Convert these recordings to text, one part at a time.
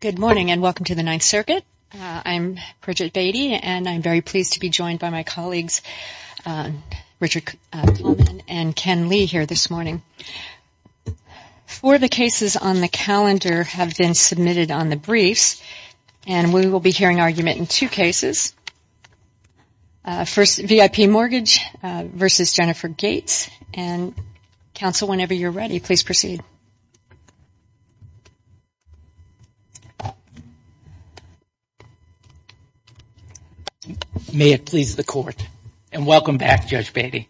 Good morning and welcome to the Ninth Circuit. I am Bridget Beatty and I am very pleased to be joined by my colleagues Richard Coleman and Ken Lee here this morning. Four of the cases on the calendar have been submitted on the briefs and we will be hearing argument in two cases. First, VIP Mortgage v. Jennifer Gates. And counsel, whenever you are ready, please proceed. May it please the Court. And welcome back, Judge Beatty.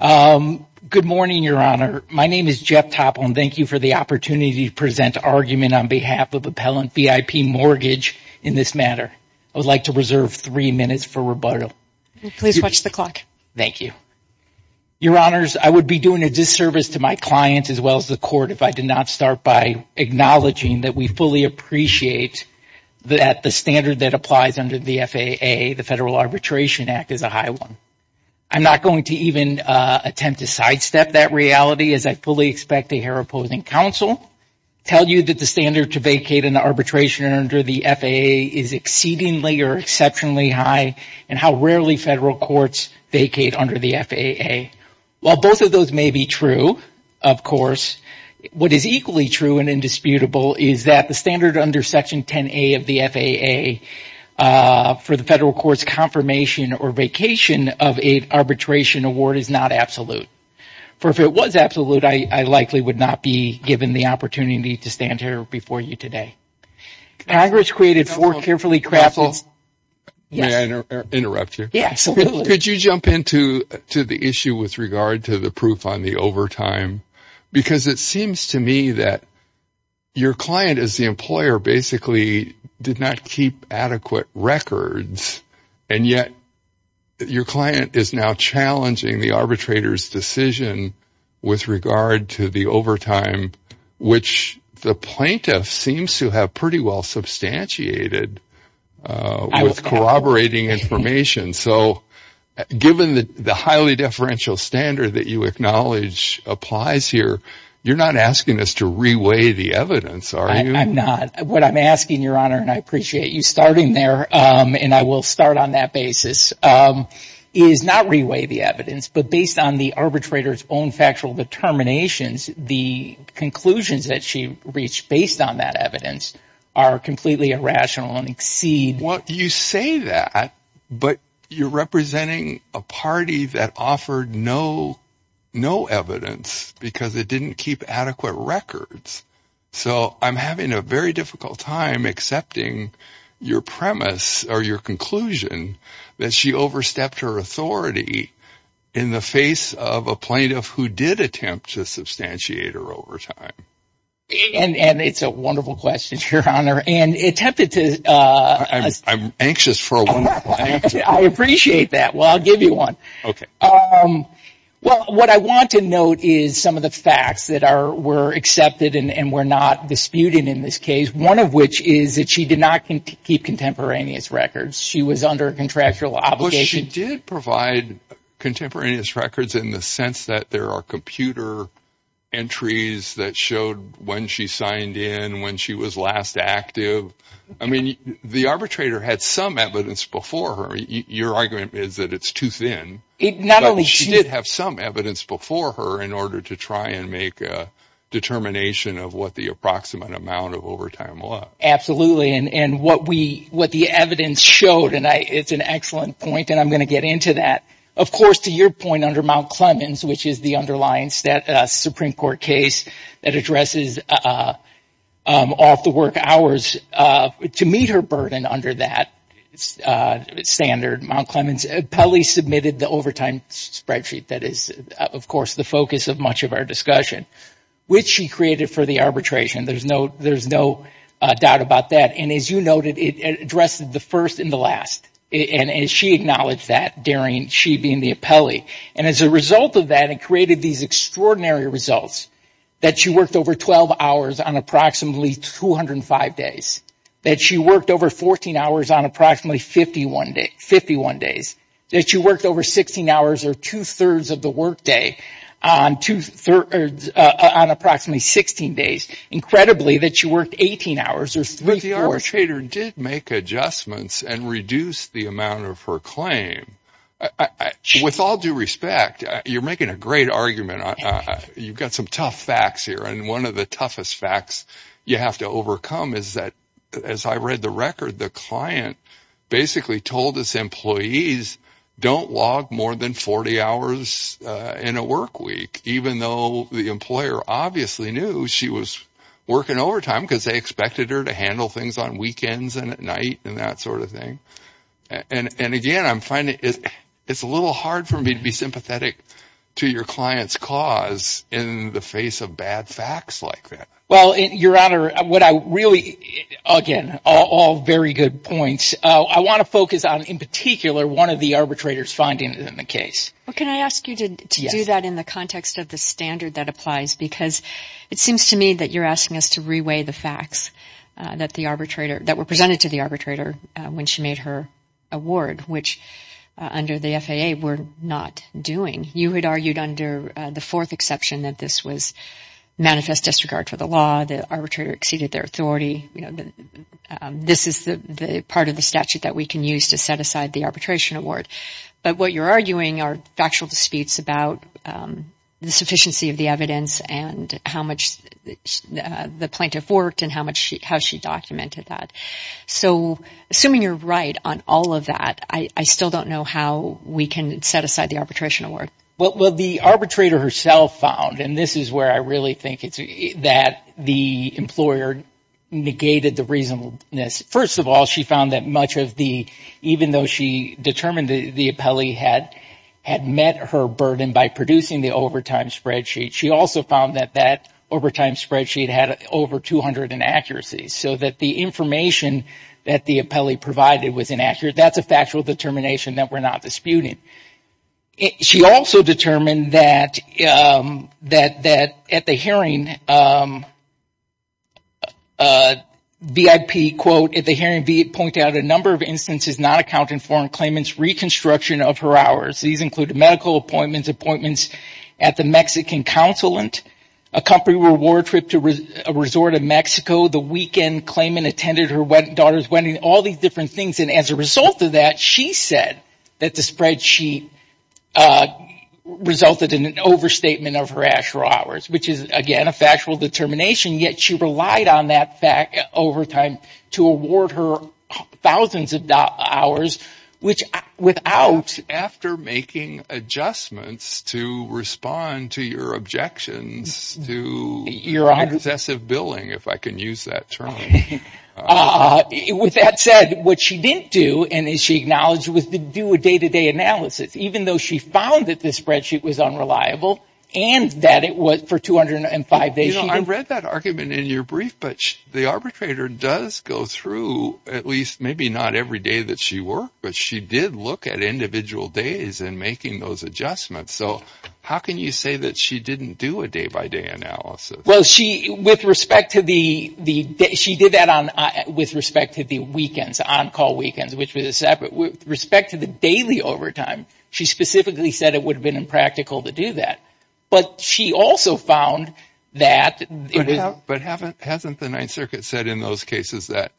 Good morning, Your Honor. My name is Jeff Topol and thank you for the opportunity to present argument on behalf of Appellant VIP Mortgage in this matter. I would like to reserve three minutes for rebuttal. Please watch the clock. Thank you. Your Honors, I would be doing a disservice to my clients as well as the Court if I did not start by acknowledging that we fully appreciate that the standard that applies under the FAA, the Federal Arbitration Act, is a high one. I am not going to even attempt to sidestep that reality as I fully expect a hair opposing counsel to tell you that the standard to vacate an arbitration under the FAA is exceedingly or exceptionally high and how rarely Federal Courts vacate under the FAA. While both of those may be true, of course, what is equally true and indisputable is that the standard under Section 10A of the FAA for the Federal Court's confirmation or vacation of an arbitration award is not absolute. For if it was absolute, I likely would not be given the opportunity to stand here before you today. Congress created four carefully crafted... May I interrupt you? Yes, absolutely. Could you jump into the issue with regard to the proof on the overtime? Because it seems to me that your client as the employer basically did not keep adequate records and yet your client is now challenging the arbitrator's decision with regard to the overtime which the plaintiff seems to have pretty well substantiated with corroborating information. So given the highly differential standard that you acknowledge applies here, you are not asking us to re-weigh the evidence, are you? I am not. What I am asking, Your Honor, and I appreciate you starting there and I will start on that basis, is not re-weigh the evidence but based on the arbitrator's own factual determinations, the conclusions that she reached based on that evidence are completely irrational and exceed... Well, you say that but you are representing a party that offered no evidence because it did not keep adequate records. So I am having a very difficult time accepting your premise or your conclusion that she overstepped her authority in the face of a plaintiff who did attempt to substantiate her overtime. And it's a wonderful question, Your Honor, and attempted to... I am anxious for a wonderful answer. I appreciate that. Well, I will give you one. Okay. Well, what I want to note is some of the facts that were accepted and were not disputed in this case, one of which is that she did not keep contemporaneous records. She was under a contractual obligation... Well, she did provide contemporaneous records in the sense that there are computer entries that showed when she signed in, when she was last active. I mean, the arbitrator had some evidence before her. Your argument is that it's too thin. It not only... She did have some evidence before her in order to try and make a determination of what the approximate amount of overtime was. Absolutely. And what the evidence showed, and it's an excellent point, and I am going to get into that. Of course, to your point under Mount Clemens, which is the underlying Supreme Court case that addresses off-the-work hours, to meet her burden under that standard, Mount Clemens, Pelley submitted the overtime spreadsheet that is, of course, the focus of much of our discussion, which she created for the arbitration. There is no doubt about that. And as you noted, it addressed the first and the last. And she acknowledged that, Darian, she being the appellee. And as a result of that, it created these extraordinary results that she worked over 12 hours on approximately 205 days, that she worked over 14 hours on approximately 51 days, that she worked over 16 hours or two-thirds of the workday on approximately 16 days. Incredibly, that she worked 18 hours or three-fourths... But the arbitrator did make adjustments and reduced the amount of her claim. With all due respect, you're making a great argument. You've got some tough facts here, and one of the toughest facts you have to overcome is that, as I read the record, the client basically told his employees, don't log more than 40 hours in a workweek, even though the employer obviously knew she was working overtime because they expected her to handle things on weekends and at night and that sort of thing. And again, I'm finding it's a little hard for me to be sympathetic to your client's cause in the face of bad facts like that. Well, Your Honor, what I really... Again, all very good points. I want to focus on, in particular, one of the arbitrator's findings in the case. Well, can I ask you to do that in the context of the standard that applies? Because it seems to me that you're asking us to re-weigh the facts that were presented to the arbitrator when she made her award, which, under the FAA, we're not doing. You had argued under the fourth exception that this was manifest disregard for the law, the arbitrator exceeded their authority. This is the part of the statute that we can use to set aside the arbitration award. But what you're arguing are factual disputes about the sufficiency of the evidence and how much the plaintiff worked and how she documented that. So assuming you're right on all of that, I still don't know how we can set aside the arbitration award. Well, the arbitrator herself found, and this is where I really think that the employer negated the reasonableness. First of all, she found that much of the... Even though she determined that the appellee had met her burden by producing the overtime spreadsheet, she also found that that overtime spreadsheet had over 200 inaccuracies. So that the information that the appellee provided was inaccurate. That's a factual determination that we're not disputing. She also determined that at the hearing, VIP, quote, at the hearing, V pointed out a number of instances not accounting foreign claimants reconstruction of her hours. These include medical appointments, appointments at the Mexican consulate, a country war trip to a resort in Mexico, the weekend claimant attended her daughter's wedding, all these different things. And as a result of that, she said that the spreadsheet resulted in an overstatement of her actual hours, which is, again, a factual determination, yet she relied on that overtime to award her thousands of hours, which without... After making adjustments to respond to your objections to excessive billing, if I can use that term. With that said, what she didn't do and she acknowledged was to do a day-to-day analysis. Even though she found that the spreadsheet was unreliable and that it was for 205 days... I read that argument in your brief, but the arbitrator does go through, at least maybe not every day that she worked, but she did look at individual days in making those adjustments. So how can you say that she didn't do a day-by-day analysis? Well, she did that with respect to the weekends, on-call weekends, which was a separate... With respect to the daily overtime, she specifically said it would have been impractical to do that. But she also found that... But hasn't the Ninth Circuit said in those cases that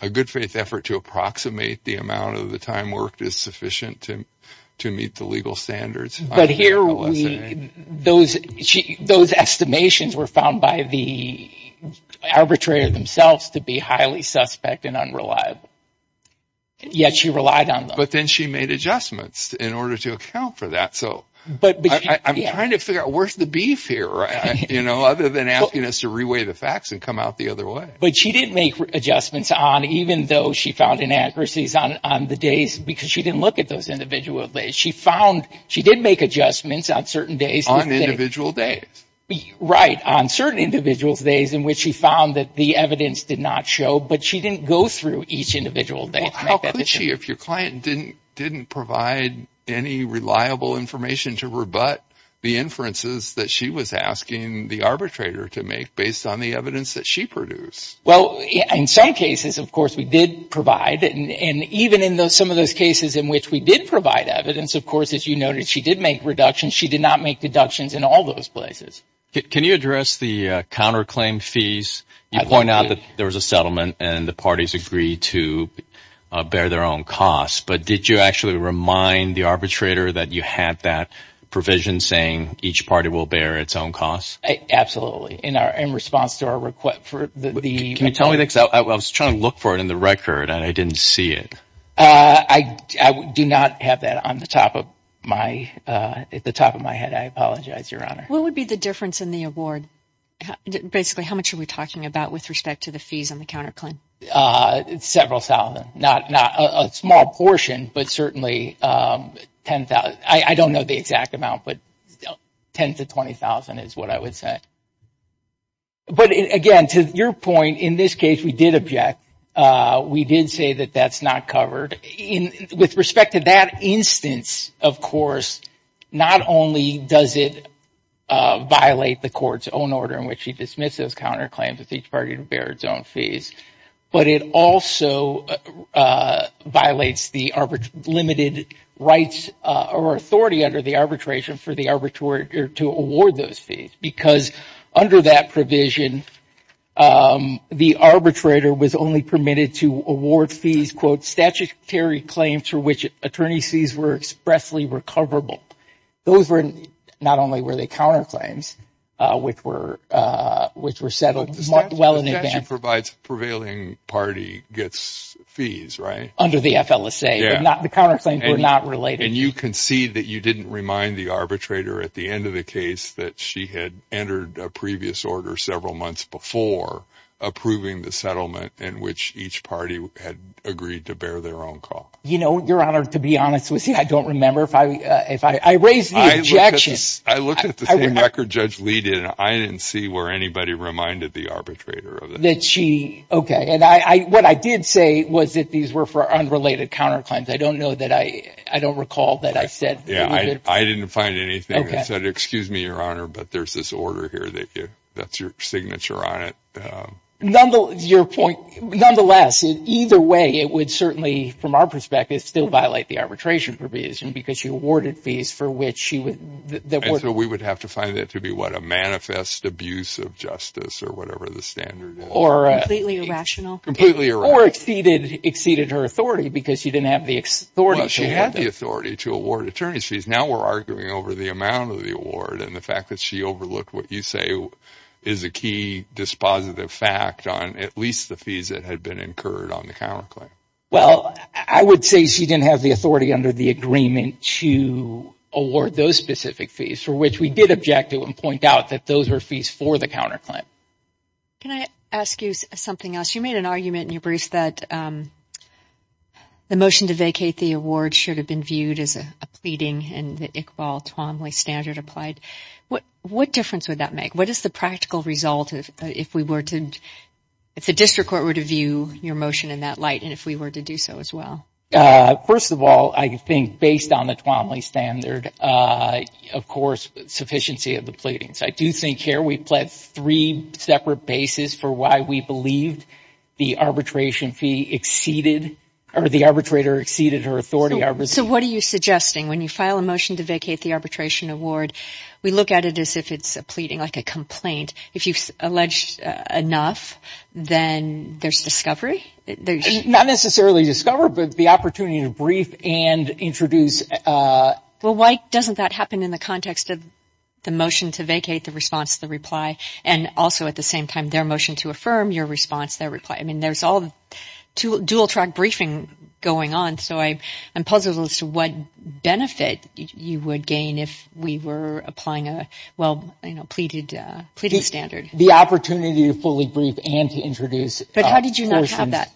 a good faith effort to approximate the amount of the time worked is sufficient to meet the legal standards? Those estimations were found by the arbitrator themselves to be highly suspect and unreliable, yet she relied on them. But then she made adjustments in order to account for that. So I'm trying to figure out where's the beef here, right? Other than asking us to re-weigh the facts and come out the other way. But she didn't make adjustments on, even though she found inaccuracies on the days, because she didn't look at those individual days. She found she did make adjustments on certain days. On individual days. Right. On certain individual days in which she found that the evidence did not show, but she didn't go through each individual day. How could she if your client didn't provide any reliable information to rebut the inferences that she was asking the arbitrator to make based on the evidence that she produced? Well, in some cases, of course, we did provide. And even in some of those cases in which we did provide evidence, of course, as you noted, she did make reductions. She did not make deductions in all those places. Can you address the counterclaim fees? You point out that there was a settlement and the parties agreed to bear their own costs. But did you actually remind the arbitrator that you had that provision saying each party will bear its own costs? Absolutely. In response to our request for the... Can you tell me that? Because I was trying to look for it in the record and I didn't see it. I do not have that on the top of my head. I apologize, Your Honor. What would be the difference in the award? Basically, how much are we talking about with respect to the fees on the counterclaim? Several thousand, not a small portion, but certainly 10,000. I don't know the exact amount, but 10,000 to 20,000 is what I would say. But again, to your point, in this case, we did object. We did say that that's not covered. With respect to that instance, of course, not only does it violate the court's own order in which she dismisses counterclaims with each party to bear its own fees, but it also violates the limited rights or authority under the arbitration for the arbitrator to award those fees. Because under that provision, the arbitrator was only permitted to award fees, quote, statutory claims for which attorney sees were expressly recoverable. Those were not only were they counterclaims, which were settled well in advance. The statute provides prevailing party gets fees, right? Under the FLSA. The counterclaims were not related. You concede that you didn't remind the arbitrator at the end of the case that she had entered a previous order several months before approving the settlement in which each party had agreed to bear their own cost. Your Honor, to be honest with you, I don't remember. I raised the objection. I looked at the record Judge Lee did and I didn't see where anybody reminded the arbitrator that she. OK, and I what I did say was that these were for unrelated counterclaims. I don't know that I I don't recall that I said. Yeah, I didn't find anything that said excuse me, Your Honor, but there's this order here that that's your signature on it. Nonetheless, your point. Nonetheless, either way, it would certainly from our perspective still violate the arbitration provision because you awarded fees for which she would. We would have to find that to be what a manifest abuse of justice or whatever the standard or completely irrational, completely or exceeded exceeded her authority because she didn't have the authority. She had the authority to award attorneys fees. Now we're arguing over the amount of the award and the fact that she overlooked what you say is a key dispositive fact on at least the fees that had been incurred on the counterclaim. Well, I would say she didn't have the authority under the agreement to award those specific fees for which we did object to and point out that those are fees for the counterclaim. Can I ask you something else? You made an argument in your briefs that. The motion to vacate the award should have been viewed as a pleading and the Iqbal Twombly standard applied. What what difference would that make? What is the practical result if we were to if the district court were to view your motion in that light? And if we were to do so as well. First of all, I think based on the Twombly standard, of course, sufficiency of the pleadings. I do think here we pled three separate bases for why we believed the arbitration fee exceeded or the arbitrator exceeded her authority. So what are you suggesting when you file a motion to vacate the arbitration award? We look at it as if it's a pleading, like a complaint. If you've alleged enough, then there's discovery. Not necessarily discover, but the opportunity to brief and introduce. Well, why doesn't that happen in the context of the motion to vacate the response, the reply, and also at the same time their motion to affirm your response, their reply? I mean, there's all to dual track briefing going on. So I am puzzled as to what benefit you would gain if we were applying a well pleaded standard. The opportunity to fully brief and to introduce. But how did you not have that?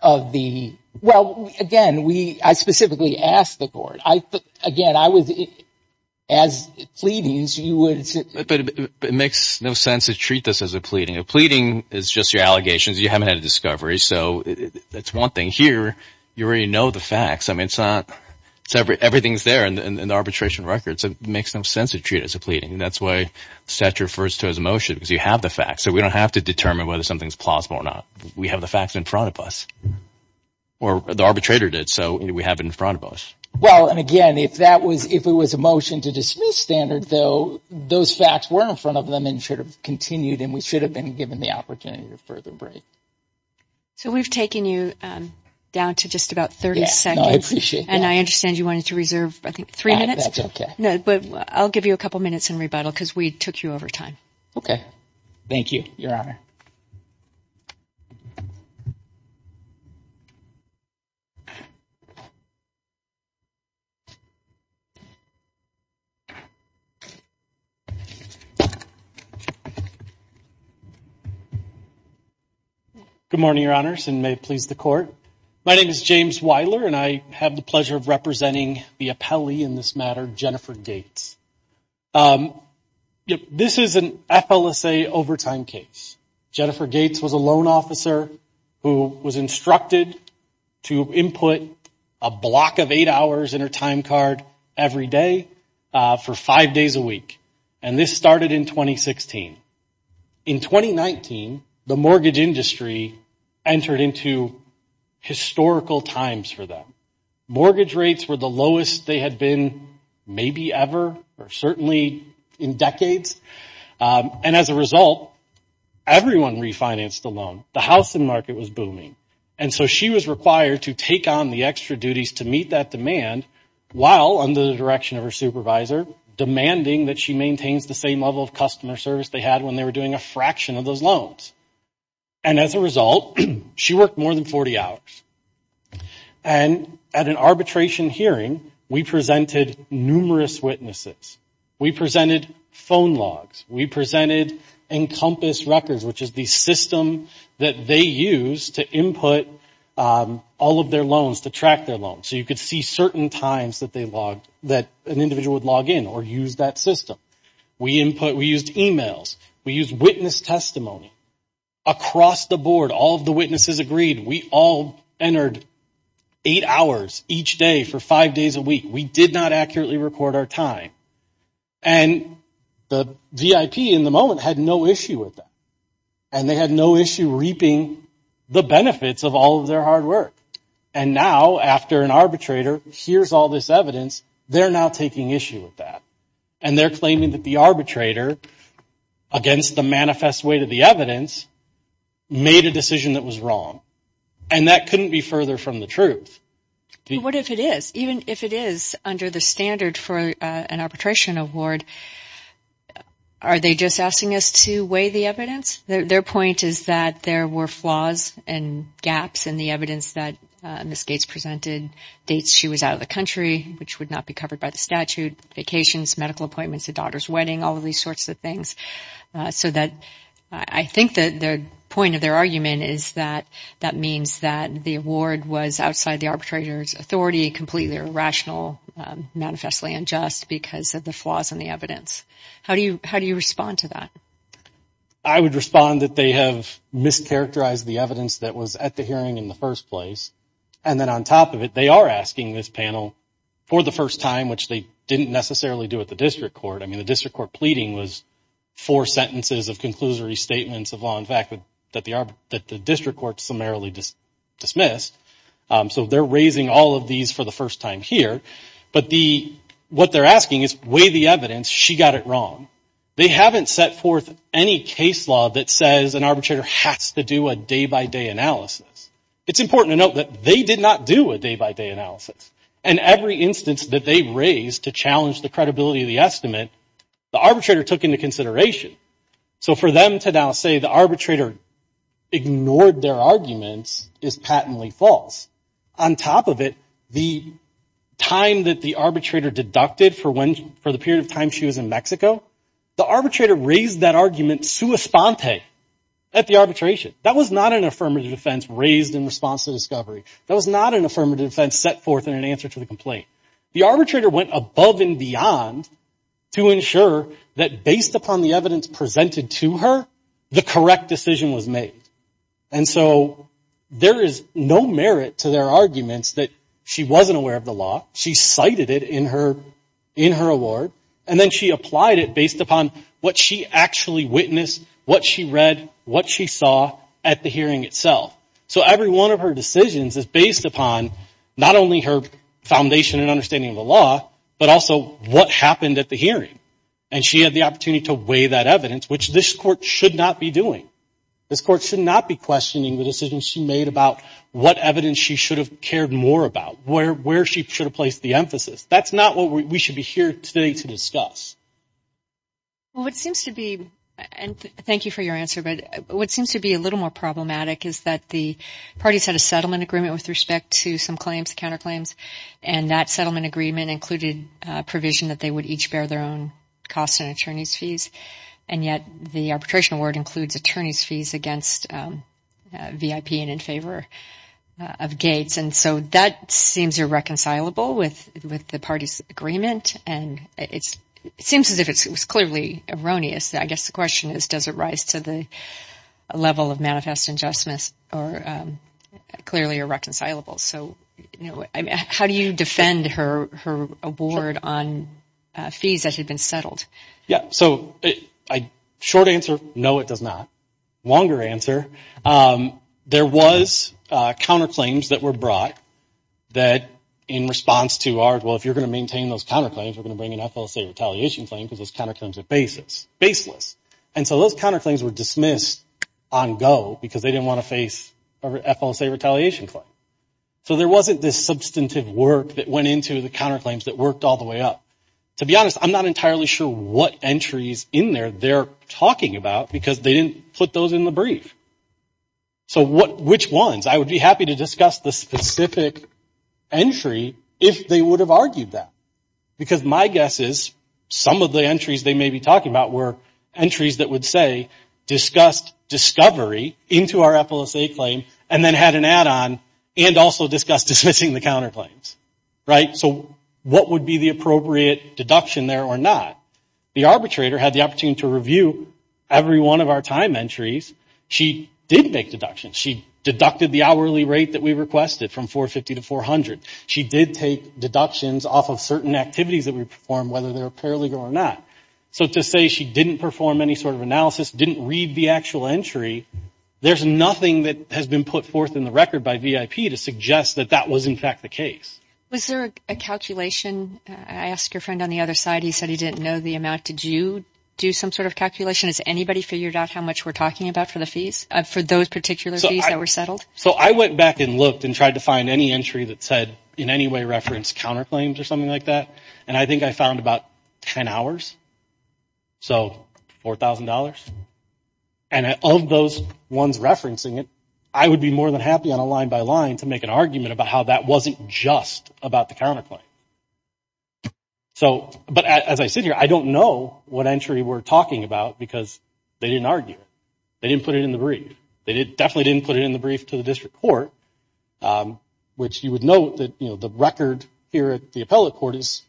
Of the well, again, we I specifically asked the court. I again, I was as fleeting as you would say, but it makes no sense to treat this as a pleading. A pleading is just your allegations. You haven't had a discovery. So that's one thing here. You already know the facts. I mean, it's not everything's there in the arbitration records. It makes no sense to treat as a pleading. That's why such refers to as a motion because you have the facts. So we don't have to determine whether something's plausible or not. We have the facts in front of us or the arbitrator did. So we have in front of us. Well, and again, if that was if it was a motion to dismiss standard, though, those facts were in front of them and should have continued and we should have been given the opportunity to further break. So we've taken you down to just about 30 seconds. And I understand you wanted to reserve, I think, three minutes. But I'll give you a couple of minutes in rebuttal because we took you over time. OK, thank you, Your Honor. Good morning, Your Honors, and may it please the court. My name is James Weiler and I have the pleasure of representing the appellee in this matter, Jennifer Gates. This is an FLSA overtime case. Jennifer Gates was a loan officer who was instructed to input a block of eight hours in her time card every day for five days a week. And this started in 2016. In 2019, the mortgage industry entered into historical times for them. Mortgage rates were the lowest they had been maybe ever or certainly in decades. And as a result, everyone refinanced the loan. The housing market was booming. And so she was required to take on the extra duties to meet that demand while under the direction of her supervisor, demanding that she maintains the same level of customer service they had when they were doing a fraction of those loans. And as a result, she worked more than 40 hours. And at an arbitration hearing, we presented numerous witnesses. We presented phone logs. We presented Encompass records, which is the system that they use to input all of their loans, to track their loans. So you could see certain times that they logged, that an individual would log in or use that system. We input, we used emails. We used witness testimony. Across the board, all of the witnesses agreed we all entered eight hours each day for five days a week. We did not accurately record our time. And the VIP in the moment had no issue with that. And they had no issue reaping the benefits of all of their hard work. And now, after an arbitrator hears all this evidence, they're now taking issue with that. And they're claiming that the arbitrator, against the manifest weight of the evidence, made a decision that was wrong. And that couldn't be further from the truth. What if it is? Even if it is under the standard for an arbitration award, are they just asking us to weigh the evidence? Their point is that there were flaws and gaps in the evidence that Ms. Gates presented, dates she was out of the country, which would not be covered by the statute, vacations, medical appointments, a daughter's wedding, all of these sorts of things. So that I think that the point of their argument is that that means that the award was outside the arbitrator's authority, completely irrational, manifestly unjust because of the flaws in the evidence. How do you how do you respond to that? I would respond that they have mischaracterized the evidence that was at the hearing in the first place. And then on top of it, they are asking this panel for the first time, which they didn't necessarily do at the district court. I mean, the district court pleading was four sentences of conclusory statements of law. In fact, that the district court summarily dismissed. So they're raising all of these for the first time here. But the what they're asking is weigh the evidence. She got it wrong. They haven't set forth any case law that says an arbitrator has to do a day by day analysis. It's important to note that they did not do a day by day analysis. And every instance that they raised to challenge the credibility of the estimate, the arbitrator took into consideration. So for them to now say the arbitrator ignored their arguments is patently false. On top of it, the time that the arbitrator deducted for when for the period of time she was in Mexico, the arbitrator raised that argument sua sponte at the arbitration. That was not an affirmative defense raised in response to discovery. That was not an affirmative defense set forth in an answer to the complaint. The arbitrator went above and beyond to ensure that based upon the evidence presented to her, the correct decision was made. And so there is no merit to their arguments that she wasn't aware of the law. She cited it in her in her award. And then she applied it based upon what she actually witnessed, what she read, what she saw at the hearing itself. So every one of her decisions is based upon not only her foundation and understanding of the law, but also what happened at the hearing. And she had the opportunity to weigh that evidence, which this court should not be doing. This court should not be questioning the decisions she made about what evidence she should have cared more about, where where she should have placed the emphasis. That's not what we should be here today to discuss. Well, it seems to be. And thank you for your answer. But what seems to be a little more problematic is that the parties had a settlement agreement with respect to some claims, counterclaims. And that settlement agreement included provision that they would each bear their own costs and attorney's fees. And yet the arbitration award includes attorney's fees against VIP and in favor of Gates. And so that seems irreconcilable with with the party's agreement. And it's it seems as if it was clearly erroneous. I guess the question is, does it rise to the level of manifest injustice or clearly irreconcilable? So how do you defend her her award on fees that had been settled? Yeah. So a short answer. No, it does not. Longer answer. There was counterclaims that were brought that in response to our well, if you're going to maintain those counterclaims, we're going to bring an FLCA retaliation claim because those counterclaims are baseless. And so those counterclaims were dismissed on go because they didn't want to face a FLCA retaliation claim. So there wasn't this substantive work that went into the counterclaims that worked all the way up. To be honest, I'm not entirely sure what entries in there they're talking about because they didn't put those in the brief. So what which ones I would be happy to discuss the specific entry if they would have argued that, because my guess is some of the entries they may be talking about were entries that would say discussed discovery into our FLCA claim and then had an add on and also discussed dismissing the counterclaims. Right. So what would be the appropriate deduction there or not? The arbitrator had the opportunity to review every one of our time entries. She did make deductions. She deducted the hourly rate that we requested from 450 to 400. She did take deductions off of certain activities that we perform, whether they're paralegal or not. So to say she didn't perform any sort of analysis, didn't read the actual entry. There's nothing that has been put forth in the record by VIP to suggest that that was, in fact, the case. Was there a calculation? I asked your friend on the other side. He said he didn't know the amount. Did you do some sort of calculation? Has anybody figured out how much we're talking about for the fees for those particular fees that were settled? So I went back and looked and tried to find any entry that said in any way reference counterclaims or something like that. And I think I found about 10 hours. So four thousand dollars. And of those ones referencing it, I would be more than happy on a line by line to make an argument about how that wasn't just about the counterclaim. So but as I sit here, I don't know what entry we're talking about because they didn't argue. They didn't put it in the brief. They definitely didn't put it in the brief to the district court, which you would note that the record here at the appellate court is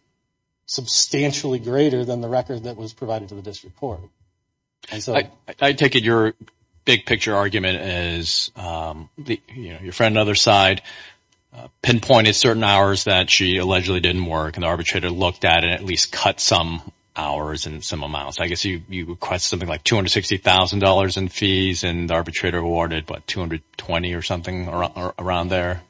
substantially greater than the record that was provided to the district court. And so I take it your big picture argument is your friend on the other side pinpointed certain hours that she allegedly didn't work and the arbitrator looked at it at least cut some hours and some amounts. I guess you request something like two hundred sixty thousand dollars in fees and the arbitrator awarded but two hundred twenty or something or around there.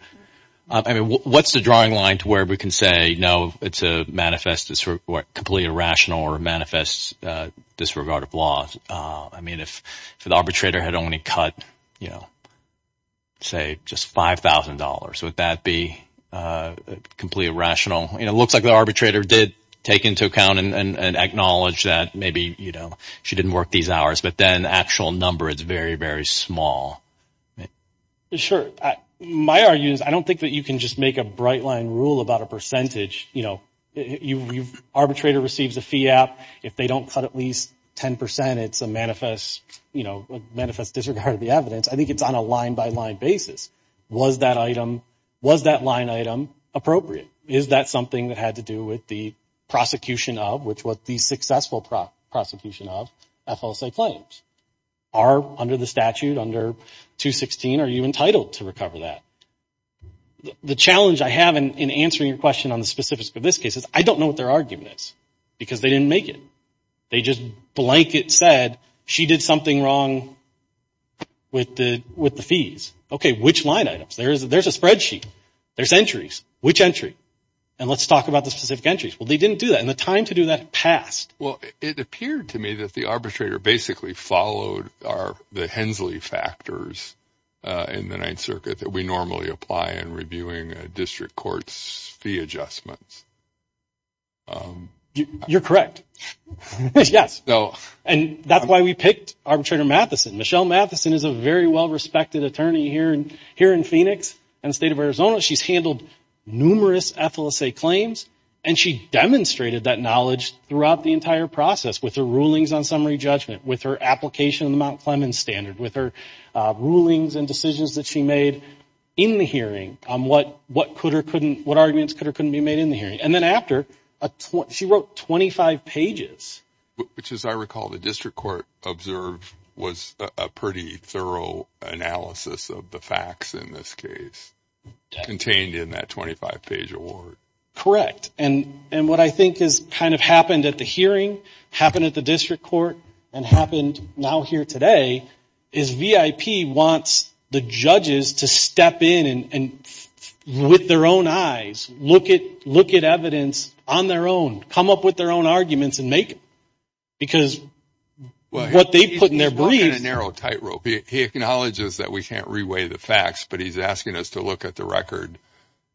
I mean, what's the drawing line to where we can say, no, it's a manifest, it's completely irrational or manifest disregard of law? I mean, if the arbitrator had only cut, you know. Say just five thousand dollars, would that be completely irrational? It looks like the arbitrator did take into account and acknowledge that maybe, you know, she didn't work these hours, but then the actual number is very, very small. Sure. My argument is I don't think that you can just make a bright line rule about a percentage. You know, you arbitrator receives a fee app if they don't cut at least 10 percent. It's a manifest, you know, manifest disregard of the evidence. I think it's on a line by line basis. Was that item, was that line item appropriate? Is that something that had to do with the prosecution of which was the successful prosecution of FLSA claims? Are under the statute under 216, are you entitled to recover that? The challenge I have in answering your question on the specifics of this case is I don't know what their argument is because they didn't make it. They just blanket said she did something wrong. With the with the fees, OK, which line items there is, there's a spreadsheet, there's entries, which entry and let's talk about the specific entries. Well, they didn't do that in the time to do that past. Well, it appeared to me that the arbitrator basically followed are the Hensley factors in the Ninth Circuit that we normally apply and reviewing district courts fee adjustments. You're correct, yes, though, and that's why we picked arbitrator Matheson, Michelle Matheson is a very well-respected attorney here and here in Phoenix and the state of Arizona, she's handled numerous FLSA claims and she demonstrated that knowledge throughout the entire process with the rulings on summary judgment, with her application of the Mount Clemens standard, with her rulings and decisions that she made in the hearing on what what could or couldn't, what arguments could or couldn't be made in the hearing. And then after she wrote 25 pages, which, as I recall, the district court observed was a pretty thorough analysis of the facts in this case contained in that 25 page award. Correct. And and what I think has kind of happened at the hearing happened at the district court and happened now here today is VIP wants the judges to step in and with their own eyes, look at look at evidence on their own, come up with their own arguments and make because what they put in their brief narrow tightrope, he acknowledges that we can't reweigh the facts, but he's asking us to look at the record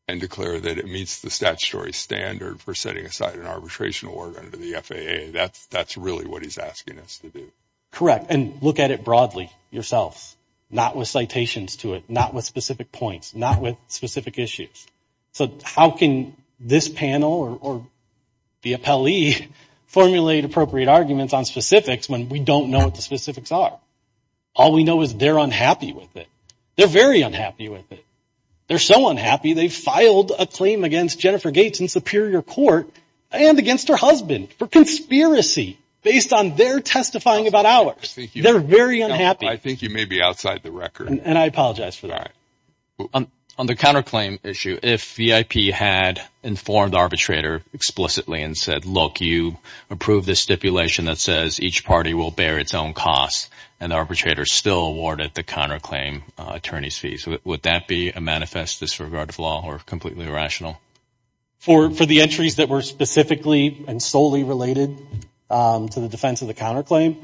and declare that it meets the statutory standard for setting aside an arbitration award under the FAA. That's that's really what he's asking us to do. Correct. And look at it broadly yourself. Not with citations to it, not with specific points, not with specific issues. So how can this panel or the appellee formulate appropriate arguments on specifics when we don't know what the specifics are? All we know is they're unhappy with it. They're very unhappy with it. They're so unhappy they filed a claim against Jennifer Gates in Superior Court and against her husband for conspiracy based on their testifying about They're very unhappy. I think you may be outside the record. And I apologize for that. On the counterclaim issue, if VIP had informed arbitrator explicitly and said, look, you approve this stipulation that says each party will bear its own cost and arbitrator still awarded the counterclaim attorney's fees, would that be a manifest disregard of law or completely irrational? For for the entries that were specifically and solely related to the defense of the counterclaim.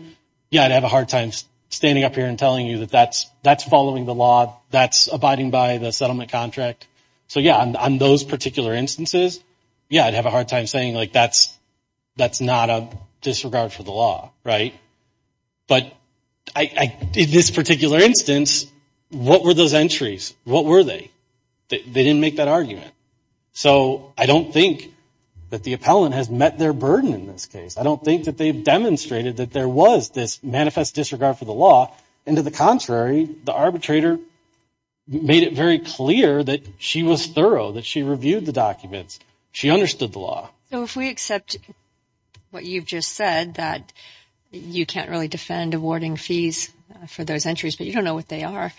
Yeah, I'd have a hard time standing up here and telling you that that's that's following the law, that's abiding by the settlement contract. So, yeah, on those particular instances, yeah, I'd have a hard time saying like that's that's not a disregard for the law. Right. But in this particular instance, what were those entries? What were they? They didn't make that argument. So I don't think that the appellant has met their burden in this case. I don't think that they've demonstrated that there was this manifest disregard for the law. And to the contrary, the arbitrator made it very clear that she was thorough, that she reviewed the documents. She understood the law. So if we accept what you've just said, that you can't really defend awarding fees for those entries, but you don't know what they are.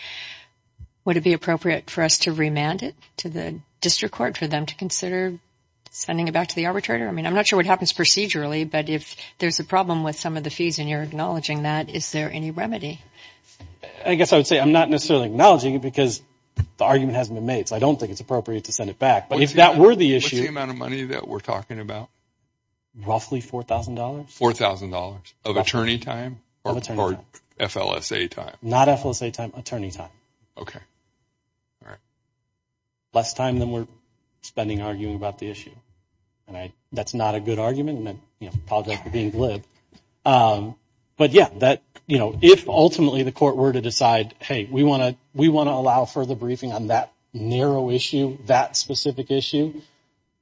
Would it be appropriate for us to remand it to the district court for them to consider sending it back to the arbitrator? I mean, I'm not sure what happens procedurally, but if there's a problem with some of the fees and you're acknowledging that, is there any remedy? I guess I would say I'm not necessarily acknowledging it because the argument hasn't been made. So I don't think it's appropriate to send it back. But if that were the issue, the amount of money that we're talking about, roughly four thousand dollars, four thousand dollars of attorney time or F.L.S.A. time, not F.L.S.A. time, attorney time. OK. All right. Less time than we're spending arguing about the issue. And that's not a good argument. And I apologize for being glib. But yeah, that, you know, if ultimately the court were to decide, hey, we want to we want to allow further briefing on that narrow issue, that specific issue.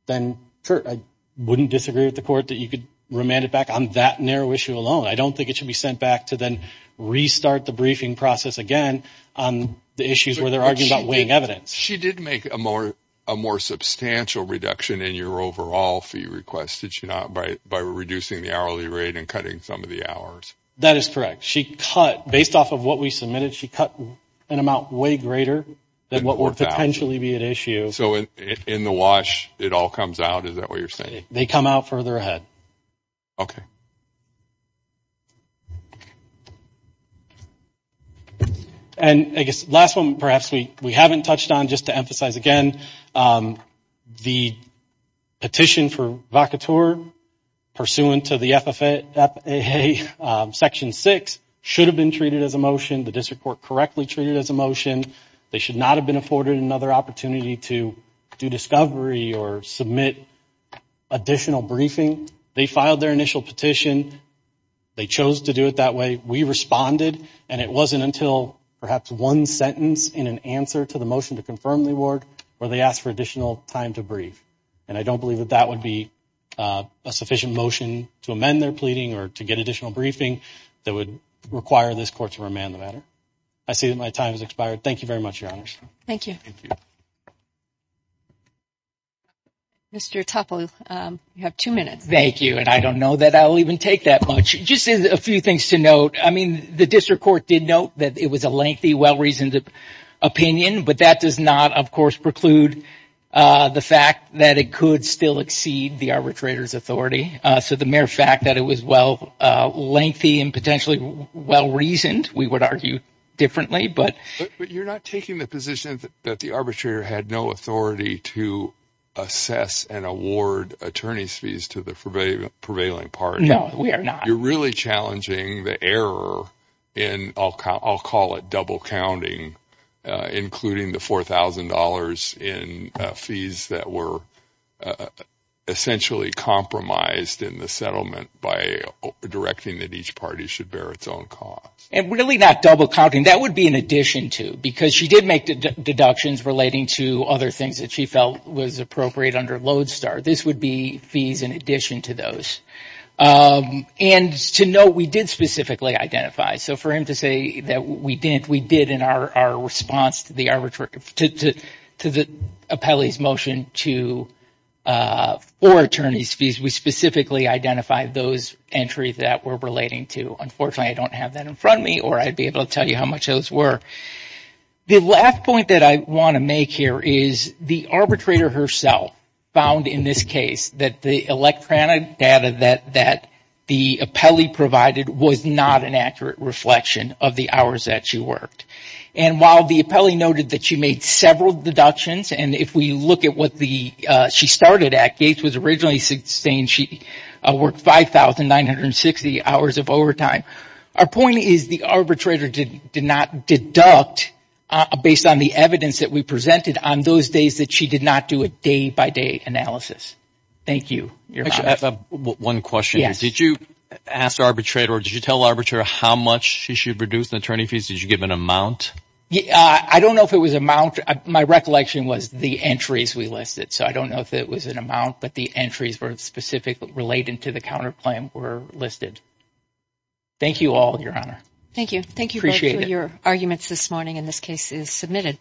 Then, Kurt, I wouldn't disagree with the court that you could remand it back on that narrow issue alone. I don't think it should be sent back to then restart the briefing process again on the issues where they're arguing about weighing evidence. She did make a more a more substantial reduction in your overall fee request, did she not, by reducing the hourly rate and cutting some of the hours? That is correct. She cut based off of what we submitted. She cut an amount way greater than what would potentially be at issue. So in the wash, it all comes out. Is that what you're saying? They come out further ahead. OK. And I guess last one, perhaps we we haven't touched on just to emphasize again, the petition for vacatur pursuant to the FFA section six should have been treated as a motion. The district court correctly treated as a motion. They should not have been afforded another opportunity to do discovery or submit additional briefing. They filed their initial petition. They chose to do it that way. We responded. And it wasn't until perhaps one sentence in an answer to the motion to confirm the award where they asked for additional time to brief. And I don't believe that that would be a sufficient motion to amend their pleading or to get additional briefing that would require this court to remand the matter. I see that my time has expired. Thank you very much, Your Honor. Thank you. Mr. Topol, you have two minutes. Thank you. And I don't know that I'll even take that much. Just a few things to note. I mean, the district court did note that it was a lengthy, well-reasoned opinion, but that does not, of course, preclude the fact that it could still exceed the arbitrator's authority. So the mere fact that it was well lengthy and potentially well-reasoned, we would argue differently. But you're not taking the position that the arbitrator had no authority to assess and award attorney's fees to the prevailing party. No, we are not. You're really challenging the error in, I'll call it double counting, including the $4,000 in fees that were essentially compromised in the settlement by directing that each party should bear its own cost. And really not double counting. That would be in addition to, because she did make deductions relating to other things that she felt was appropriate under Lodestar. This would be fees in addition to those. And to note, we did specifically identify. So for him to say that we didn't, we did in our response to the appellee's motion to, or attorney's fees, we specifically identified those entries that we're relating to. Unfortunately, I don't have that in front of me, or I'd be able to tell you how much those were. The last point that I want to make here is the arbitrator herself found in this case that the electronic data that the appellee provided was not an accurate reflection of the hours that she worked. And while the appellee noted that she made several deductions. And if we look at what the, she started at, Gates was originally saying she worked 5,960 hours of overtime. Our point is the arbitrator did not deduct based on the evidence that we presented on those days that she did not do a day by day analysis. Thank you. One question. Did you ask the arbitrator or did you tell the arbitrator how much she should reduce the attorney fees? Did you give an amount? I don't know if it was amount. My recollection was the entries we listed, so I don't know if it was an amount, but the entries were specific related to the counterclaim were listed. Thank you all, Your Honor. Thank you. Thank you for your arguments this morning. And this case is submitted.